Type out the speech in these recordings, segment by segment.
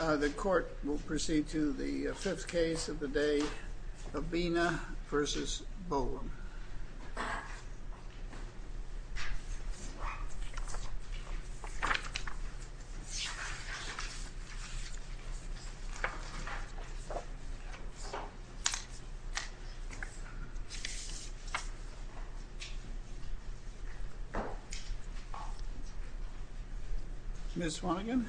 The court will proceed to the fifth case of the day, Avina v. Bohlen. Ms. Swannigan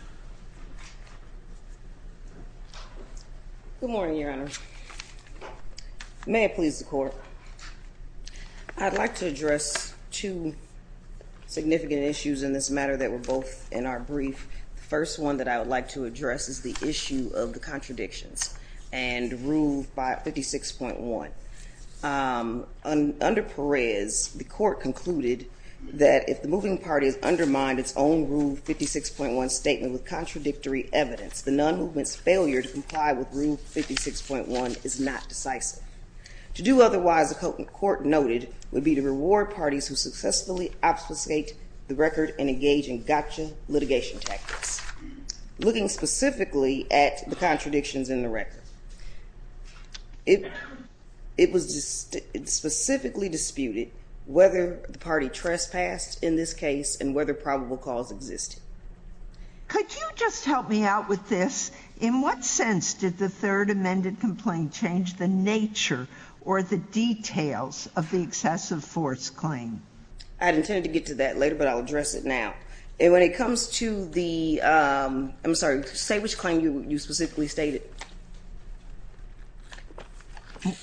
Good morning, Your Honor. May it please the court. I'd like to address two significant issues in this matter that were both in our brief. The first one that I would like to address is the issue of the contradictions and Rule 56.1. Under Perez, the court concluded that if the moving parties undermine its own Rule 56.1 statement with contradictory evidence, the non-movement's failure to comply with Rule 56.1 is not decisive. To do otherwise, the court noted, would be to reward parties who successfully obfuscate the record and engage in gotcha litigation tactics. Looking specifically at the contradictions in the record, it was specifically disputed whether the party trespassed in this case and whether probable cause existed. Could you just help me out with this? In what sense did the third amended complaint change the nature or the details of the excessive force claim? I intend to get to that later, but I'll address it now. When it comes to the, I'm sorry, say which claim you specifically stated.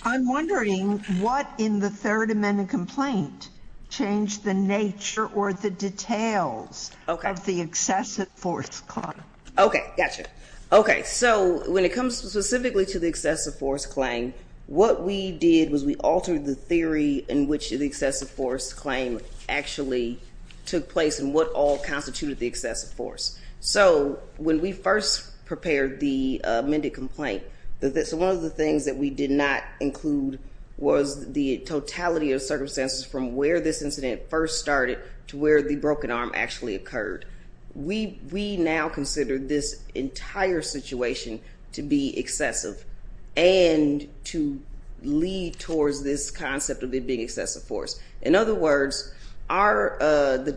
I'm wondering what in the third amended complaint changed the nature or the details of the excessive force claim. Okay, gotcha. Okay, so when it comes specifically to the excessive force claim, what we did was we altered the theory in which the excessive force claim actually took place and what all constituted the excessive force. So when we first prepared the amended complaint, one of the things that we did not include was the totality of circumstances from where this incident first started to where the broken arm actually occurred. We now consider this entire situation to be excessive and to lead towards this concept of it being excessive force. In other words, Avina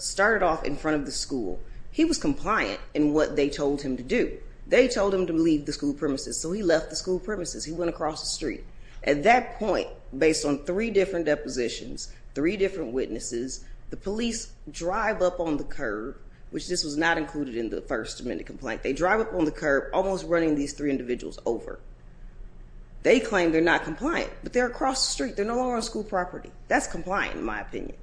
started off in front of the school. He was compliant in what they told him to do. They told him to leave the school premises, so he left the school premises. He went across the street. At that point, based on three different depositions, three different witnesses, the police drive up on the curb, which this was not included in the first amendment complaint. They drive up on the curb, almost running these three individuals over. They claim they're not compliant, but they're across the street. They're no longer on school property. That's compliant, in my opinion.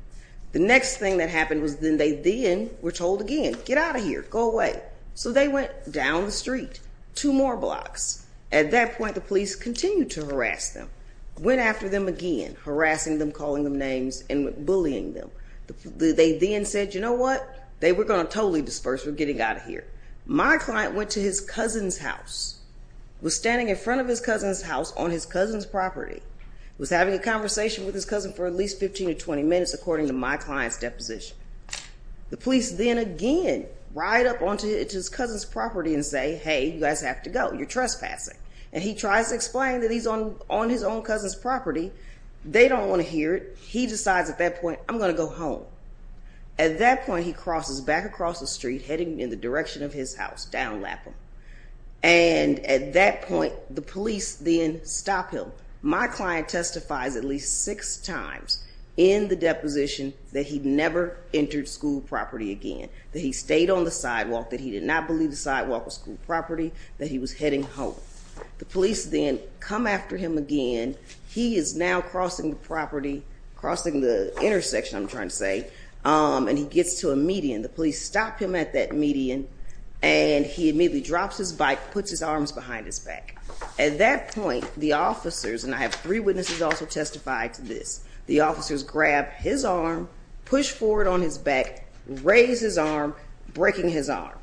The next thing that happened was then they then were told again, get out of here, go away. So they went down the street two more blocks. At that point, the police continued to harass them, went after them again, harassing them, calling them names, and bullying them. They then said, you know what? They were going to totally disperse. We're getting out of here. My client went to his cousin's house, was standing in front of his cousin's house on his cousin's property, was having a conversation with his cousin for at least 15 or 20 minutes, according to my client's deposition. The police then again ride up onto his cousin's property and say, hey, you guys have to go. You're trespassing. And he tries to explain that he's on his own cousin's property. They don't want to hear it. He decides at that point, I'm going to go home. At that point, he crosses back across the street, heading in the direction of his house, down Lapham. And at that point, the police then stop him. My client testifies at least six times in the deposition that he never entered school property again, that he stayed on the sidewalk, that he did not believe the sidewalk was school property, that he was heading home. The police then come after him again. He is now crossing the property, crossing the intersection, I'm trying to say, and he gets to a median. The police stop him at that median, and he immediately drops his bike, puts his arms behind his back. At that point, the officers, and I have three witnesses also testify to this, the officers grab his arm, push forward on his back, raise his arm, breaking his arm.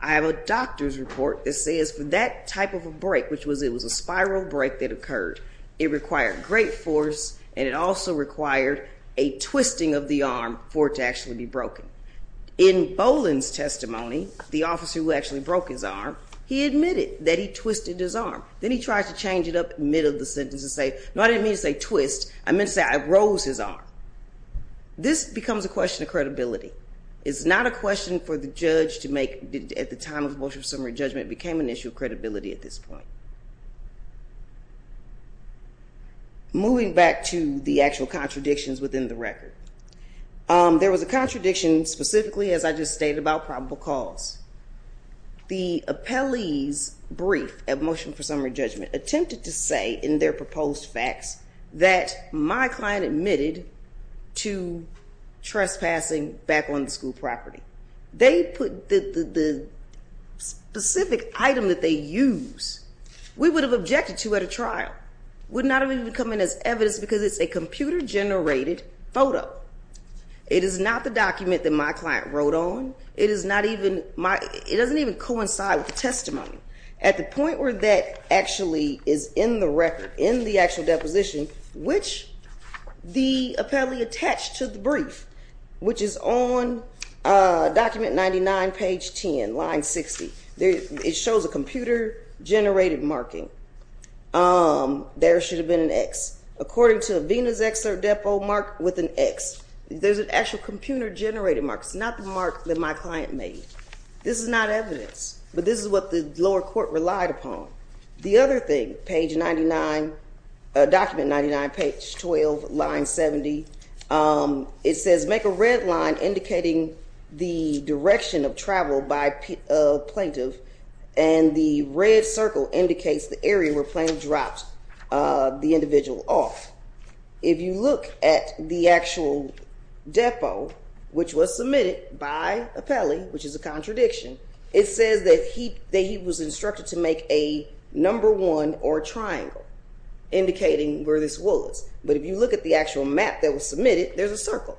I have a doctor's report that says for that type of a break, which was it was a spiral break that occurred, it required great force, and it also required a twisting of the arm for it to actually be broken. In Boland's testimony, the officer who actually broke his arm, he admitted that he twisted his arm. Then he tried to change it up in the middle of the sentence and say, no, I didn't mean to say twist. I meant to say I rose his arm. This becomes a question of credibility. It's not a question for the judge to make at the time of the motion of summary judgment became an issue of credibility at this point. Moving back to the actual contradictions within the record. There was a contradiction specifically as I just stated about probable cause. The appellee's brief at motion for summary judgment attempted to say in their proposed facts that my client admitted to trespassing back on the school property. The specific item that they use, we would have objected to at a trial. Would not have even come in as evidence because it's a computer generated photo. It is not the document that my client wrote on. It doesn't even coincide with the testimony. At the point where that actually is in the record, in the actual deposition, which the appellee attached to the brief, which is on document 99, page 10, line 60. It shows a computer generated marking. There should have been an X. According to Avina's excerpt, depo mark with an X. There's an actual computer generated mark. It's not the mark that my client made. This is not evidence, but this is what the lower court relied upon. The other thing, page 99, document 99, page 12, line 70. It says make a red line indicating the direction of travel by plaintiff. And the red circle indicates the area where plaintiff dropped the individual off. If you look at the actual depo, which was submitted by appellee, which is a contradiction. It says that he was instructed to make a number one or triangle indicating where this was. But if you look at the actual map that was submitted, there's a circle.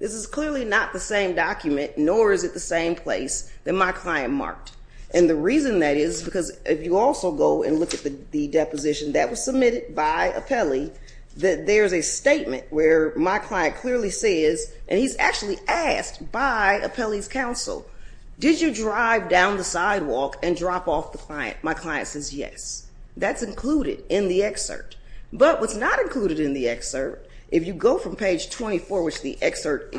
This is clearly not the same document, nor is it the same place that my client marked. And the reason that is, because if you also go and look at the deposition that was submitted by appellee, that there's a statement where my client clearly says, and he's actually asked by appellee's counsel, did you drive down the sidewalk and drop off the client? My client says yes. That's included in the excerpt. But what's not included in the excerpt, if you go from page 24, which the excerpt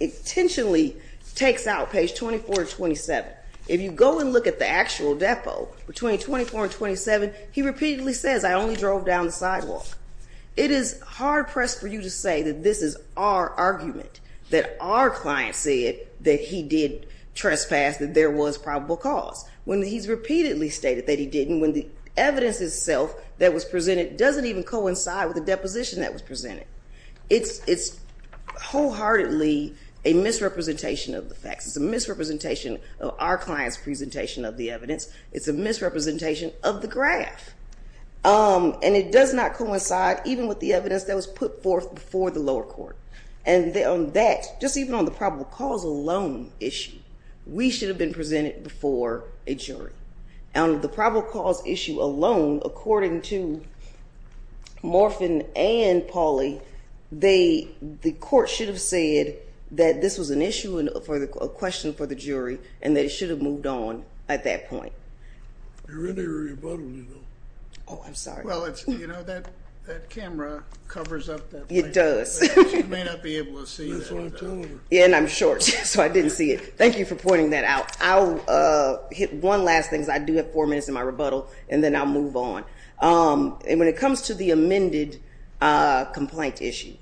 intentionally takes out, page 24 to 27, if you go and look at the actual depo between 24 and 27, he repeatedly says I only drove down the sidewalk. It is hard pressed for you to say that this is our argument, that our client said that he did trespass, that there was probable cause. When he's repeatedly stated that he didn't, when the evidence itself that was presented doesn't even coincide with the deposition that was presented. It's wholeheartedly a misrepresentation of the facts. It's a misrepresentation of our client's presentation of the evidence. It's a misrepresentation of the graph. And it does not coincide even with the evidence that was put forth before the lower court. And on that, just even on the probable cause alone issue, we should have been presented before a jury. On the probable cause issue alone, according to Morfin and Pauley, the court should have said that this was an issue, a question for the jury, and that it should have moved on at that point. You're in the rebuttal, you know. Oh, I'm sorry. Well, you know, that camera covers up that. It does. But you may not be able to see that. That's why I'm telling her. Yeah, and I'm short, so I didn't see it. Thank you for pointing that out. One last thing, because I do have four minutes in my rebuttal, and then I'll move on. When it comes to the amended complaint issue,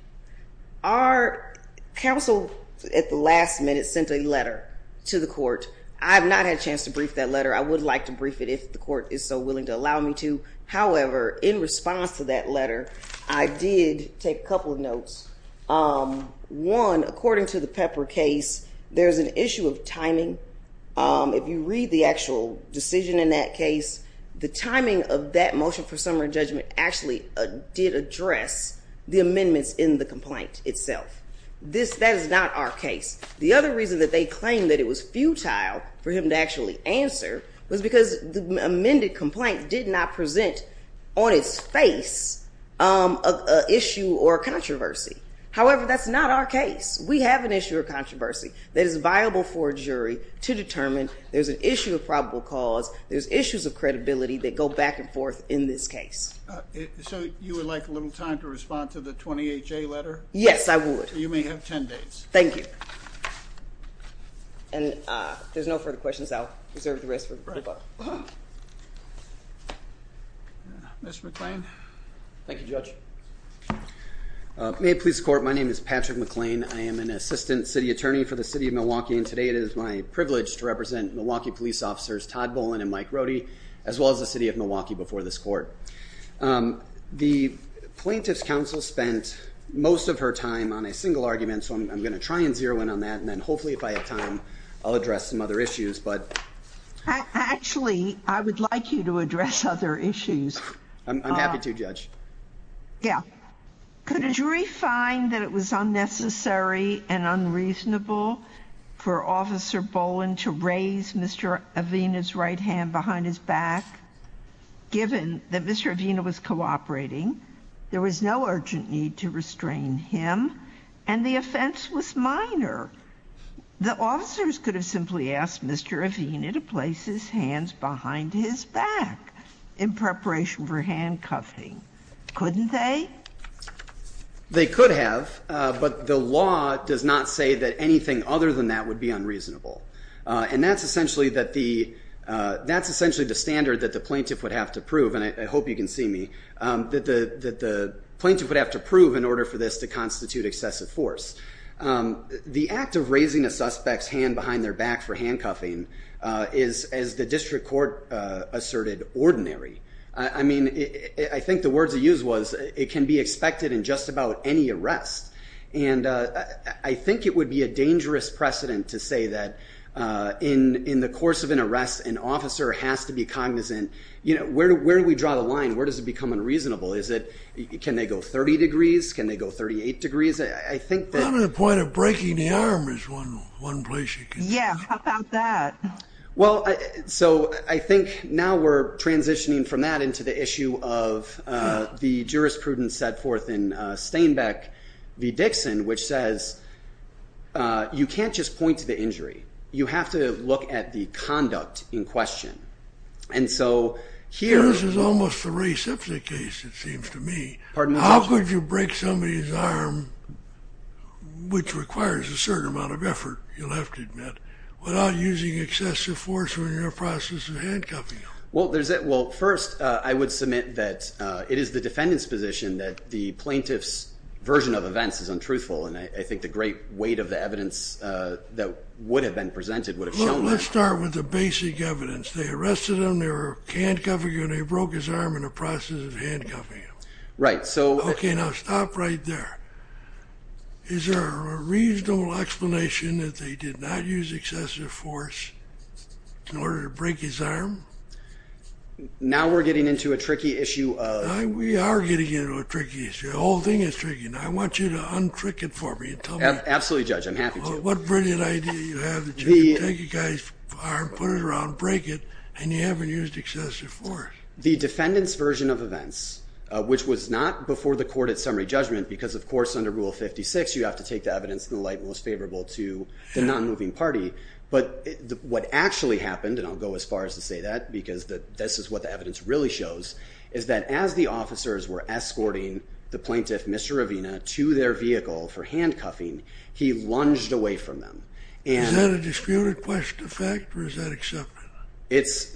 our counsel at the last minute sent a letter to the court. I have not had a chance to brief that letter. I would like to brief it if the court is so willing to allow me to. However, in response to that letter, I did take a couple of notes. One, according to the Pepper case, there is an issue of timing. If you read the actual decision in that case, the timing of that motion for summary judgment actually did address the amendments in the complaint itself. That is not our case. The other reason that they claimed that it was futile for him to actually answer was because the amended complaint did not present on its face an issue or controversy. However, that's not our case. We have an issue or controversy that is viable for a jury to determine. There's an issue of probable cause. There's issues of credibility that go back and forth in this case. So you would like a little time to respond to the 28-J letter? Yes, I would. You may have 10 days. Thank you. And if there's no further questions, I'll reserve the rest for the public. Mr. McClain. Thank you, Judge. May it please the Court, my name is Patrick McClain. I am an Assistant City Attorney for the City of Milwaukee, and today it is my privilege to represent Milwaukee Police Officers Todd Bolin and Mike Rohde, as well as the City of Milwaukee, before this Court. The Plaintiff's Counsel spent most of her time on a single argument, so I'm going to try and zero in on that, and then hopefully if I have time, I'll address some other issues. Actually, I would like you to address other issues. Yeah. Could a jury find that it was unnecessary and unreasonable for Officer Bolin to raise Mr. Avena's right hand behind his back, given that Mr. Avena was cooperating, there was no urgent need to restrain him, and the offense was minor? The officers could have simply asked Mr. Avena to place his hands behind his back in preparation for handcuffing, couldn't they? They could have, but the law does not say that anything other than that would be unreasonable. And that's essentially the standard that the Plaintiff would have to prove, and I hope you can see me, that the Plaintiff would have to prove in order for this to constitute excessive force. The act of raising a suspect's hand behind their back for handcuffing is, as the District Court asserted, ordinary. I mean, I think the words they used was, it can be expected in just about any arrest. And I think it would be a dangerous precedent to say that in the course of an arrest, an officer has to be cognizant, you know, where do we draw the line? Where does it become unreasonable? Can they go 30 degrees? Can they go 38 degrees? I mean, the point of breaking the arm is one place you can do that. Yeah, how about that? Well, so I think now we're transitioning from that into the issue of the jurisprudence set forth in Stainbeck v. Dixon, which says you can't just point to the injury. You have to look at the conduct in question. And so here... This is almost a re-substitute case, it seems to me. Pardon me? How could you break somebody's arm, which requires a certain amount of effort, you'll have to admit, without using excessive force when you're in the process of handcuffing him? Well, first, I would submit that it is the defendant's position that the plaintiff's version of events is untruthful. And I think the great weight of the evidence that would have been presented would have shown that. Well, let's start with the basic evidence. They arrested him, they were handcuffing him, and they broke his arm in the process of handcuffing him. Right, so... Okay, now stop right there. Is there a reasonable explanation that they did not use excessive force in order to break his arm? Now we're getting into a tricky issue of... We are getting into a tricky issue. The whole thing is tricky. Now I want you to untrick it for me and tell me... Absolutely, Judge, I'm happy to. What brilliant idea do you have that you can take a guy's arm, put it around, break it, and you haven't used excessive force? The defendant's version of events, which was not before the court at summary judgment, because of course under Rule 56 you have to take the evidence in the light most favorable to the non-moving party, but what actually happened, and I'll go as far as to say that because this is what the evidence really shows, is that as the officers were escorting the plaintiff, Mr. Ravina, to their vehicle for handcuffing, he lunged away from them. Is that a disputed question of fact, or is that accepted?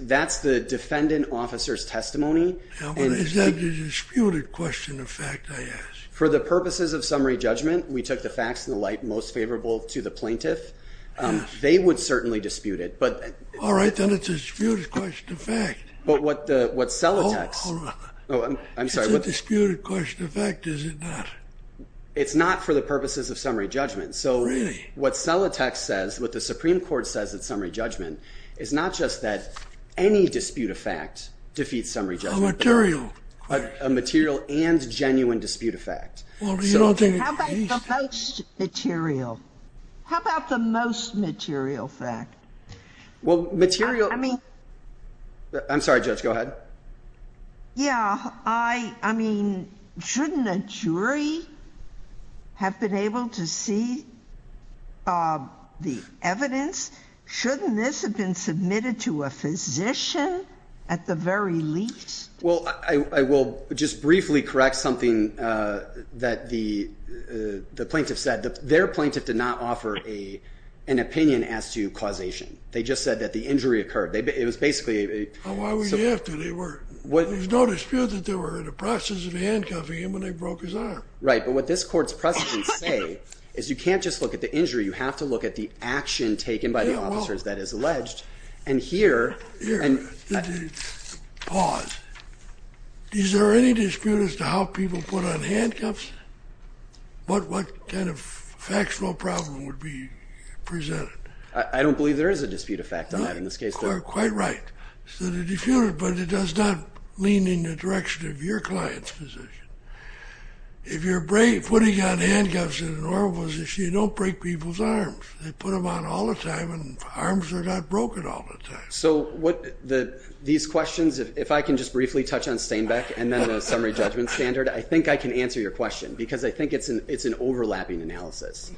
That's the defendant officer's testimony. Is that a disputed question of fact, I ask? For the purposes of summary judgment, we took the facts in the light most favorable to the plaintiff. They would certainly dispute it, but... All right, then it's a disputed question of fact. But what Celotex... It's a disputed question of fact, is it not? It's not for the purposes of summary judgment. Really? What Celotex says, what the Supreme Court says at summary judgment, is not just that any dispute of fact defeats summary judgment. A material. A material and genuine dispute of fact. How about the most material? How about the most material fact? Well, material... I mean... I'm sorry, Judge, go ahead. Yeah, I mean, shouldn't a jury have been able to see the evidence? Shouldn't this have been submitted to a physician at the very least? Well, I will just briefly correct something that the plaintiff said. Their plaintiff did not offer an opinion as to causation. They just said that the injury occurred. It was basically... Why would you have to? There's no dispute that they were in the process of handcuffing him when they broke his arm. Right, but what this Court's precedents say is you can't just look at the injury. You have to look at the action taken by the officers that is alleged. And here... Pause. Is there any dispute as to how people put on handcuffs? What kind of factual problem would be presented? I don't believe there is a dispute of fact on that in this case. You're quite right. But it does not lean in the direction of your client's position. If you're putting on handcuffs in a normal position, you don't break people's arms. They put them on all the time, and arms are not broken all the time. So these questions, if I can just briefly touch on Stainbeck and then the summary judgment standard, I think I can answer your question because I think it's an overlapping analysis.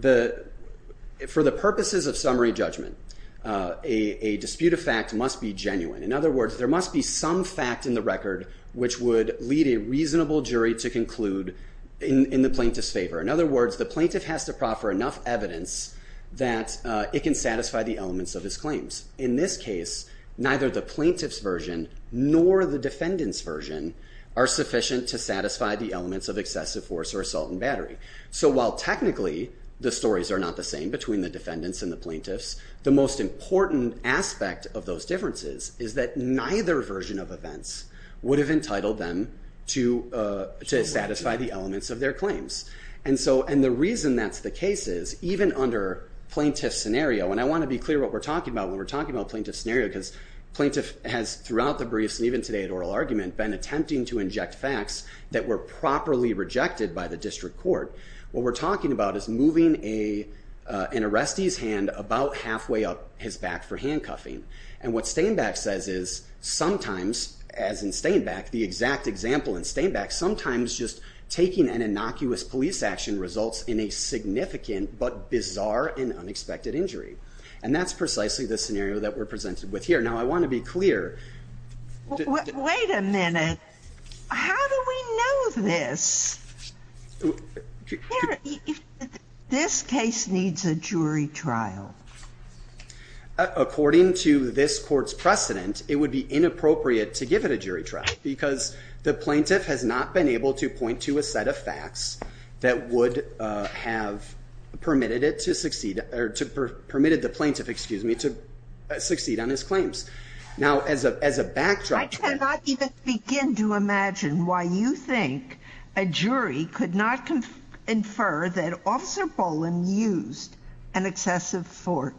For the purposes of summary judgment, a dispute of fact must be genuine. In other words, there must be some fact in the record which would lead a reasonable jury to conclude in the plaintiff's favor. In other words, the plaintiff has to proffer enough evidence that it can satisfy the elements of his claims. In this case, neither the plaintiff's version nor the defendant's version are sufficient to satisfy the elements of excessive force or assault and battery. So while technically the stories are not the same between the defendants and the plaintiffs, the most important aspect of those differences is that neither version of events would have entitled them to satisfy the elements of their claims. And the reason that's the case is even under plaintiff scenario, and I want to be clear what we're talking about when we're talking about plaintiff scenario because plaintiff has, throughout the briefs and even today at oral argument, been attempting to inject facts that were properly rejected by the district court. What we're talking about is moving an arrestee's hand about halfway up his back for handcuffing. And what Stainbeck says is sometimes, as in Stainbeck, the exact example in Stainbeck, sometimes just taking an innocuous police action results in a significant but bizarre and unexpected injury. And that's precisely the scenario that we're presented with here. Now, I want to be clear. Wait a minute. How do we know this? This case needs a jury trial. According to this court's precedent, it would be inappropriate to give it a jury trial because the plaintiff has not been able to point to a set of facts that would have permitted it to succeed or permitted the plaintiff, excuse me, to succeed on his claims. Now, as a as a backdrop, I cannot even begin to imagine why you think a jury could not confer that officer Poland used an excessive for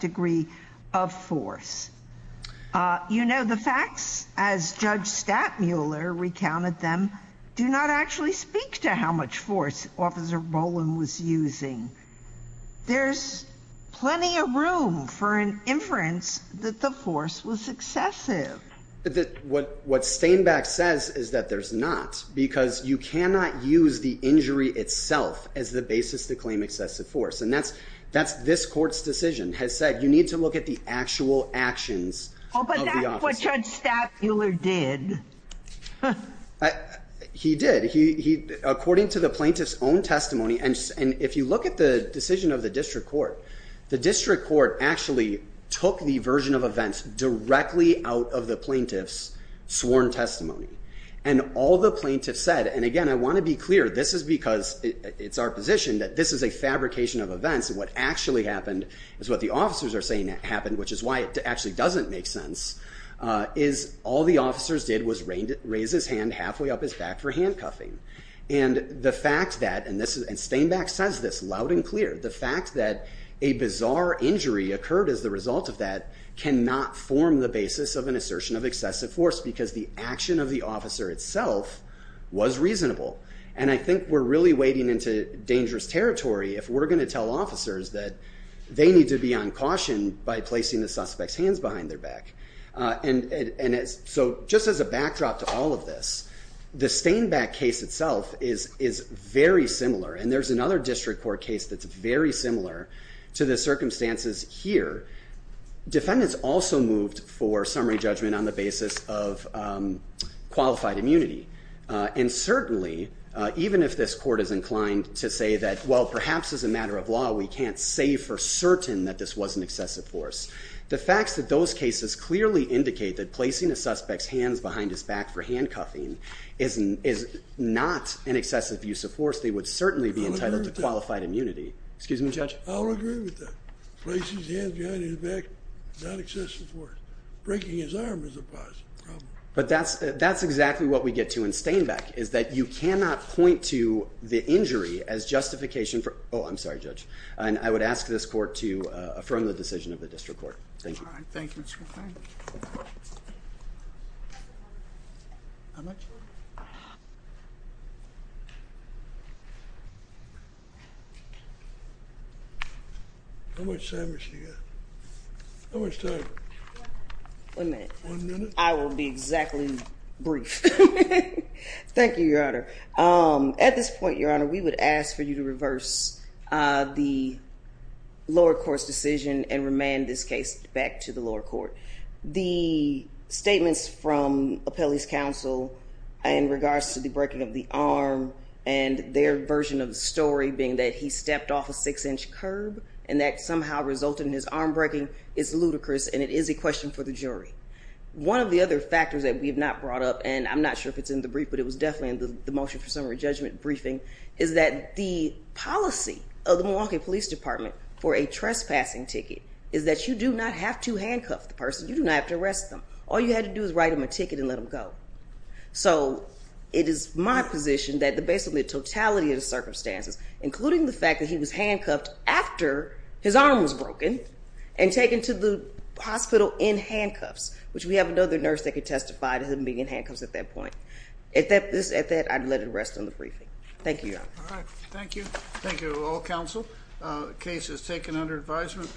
degree of force. You know, the facts, as Judge Stattmuller recounted them, do not actually speak to how much force officer Poland was using. There's plenty of room for an inference that the force was excessive. What what Stainbeck says is that there's not because you cannot use the injury itself as the basis to claim excessive force. And that's that's this court's decision has said you need to look at the actual actions. Oh, but that's what Judge Stattmuller did. He did. He according to the plaintiff's own testimony. And if you look at the decision of the district court, the district court actually took the version of events directly out of the plaintiff's sworn testimony. And all the plaintiffs said and again, I want to be clear. This is because it's our position that this is a fabrication of events. And what actually happened is what the officers are saying happened, which is why it actually doesn't make sense is all the officers did was raise his hand halfway up his back for handcuffing. And the fact that and this is and Stainbeck says this loud and clear. The fact that a bizarre injury occurred as the result of that cannot form the basis of an assertion of excessive force because the action of the officer itself was reasonable. And I think we're really wading into dangerous territory if we're going to tell officers that they need to be on caution by placing the suspect's hands behind their back. And so just as a backdrop to all of this, the Stainbeck case itself is very similar. And there's another district court case that's very similar to the circumstances here. Defendants also moved for summary judgment on the basis of qualified immunity. And certainly, even if this court is inclined to say that, well, perhaps as a matter of law, we can't say for certain that this was an excessive force. The facts of those cases clearly indicate that placing a suspect's hands behind his back for handcuffing is not an excessive use of force. They would certainly be entitled to qualified immunity. Excuse me, Judge. I'll agree with that. Places his hands behind his back is not excessive force. Breaking his arm is a positive problem. But that's exactly what we get to in Stainbeck is that you cannot point to the injury as justification for, oh, I'm sorry, Judge. And I would ask this court to affirm the decision of the district court. Thank you. All right. Thank you, Mr. O'Farrell. How much? How much time has she got? How much time? One minute. One minute? I will be exactly brief. Thank you, Your Honor. At this point, Your Honor, we would ask for you to reverse the lower court's decision and remand this case back to the lower court. The statements from Apelli's counsel in regards to the breaking of the arm and their version of the story being that he stepped off a six-inch curb and that somehow resulted in his arm breaking is ludicrous, and it is a question for the jury. One of the other factors that we have not brought up, and I'm not sure if it's in the brief, but it was definitely in the motion for summary judgment briefing, is that the policy of the Milwaukee Police Department for a trespassing ticket is that you do not have to handcuff the person. You do not have to arrest them. All you have to do is write them a ticket and let them go. So it is my position that based on the totality of the circumstances, including the fact that he was handcuffed after his arm was broken and taken to the hospital in handcuffs, which we have another nurse that could testify to him being in handcuffs at that point. At that, I'd let it rest in the briefing. Thank you, Your Honor. All right. Thank you. Thank you to all counsel. The case is taken under advisement.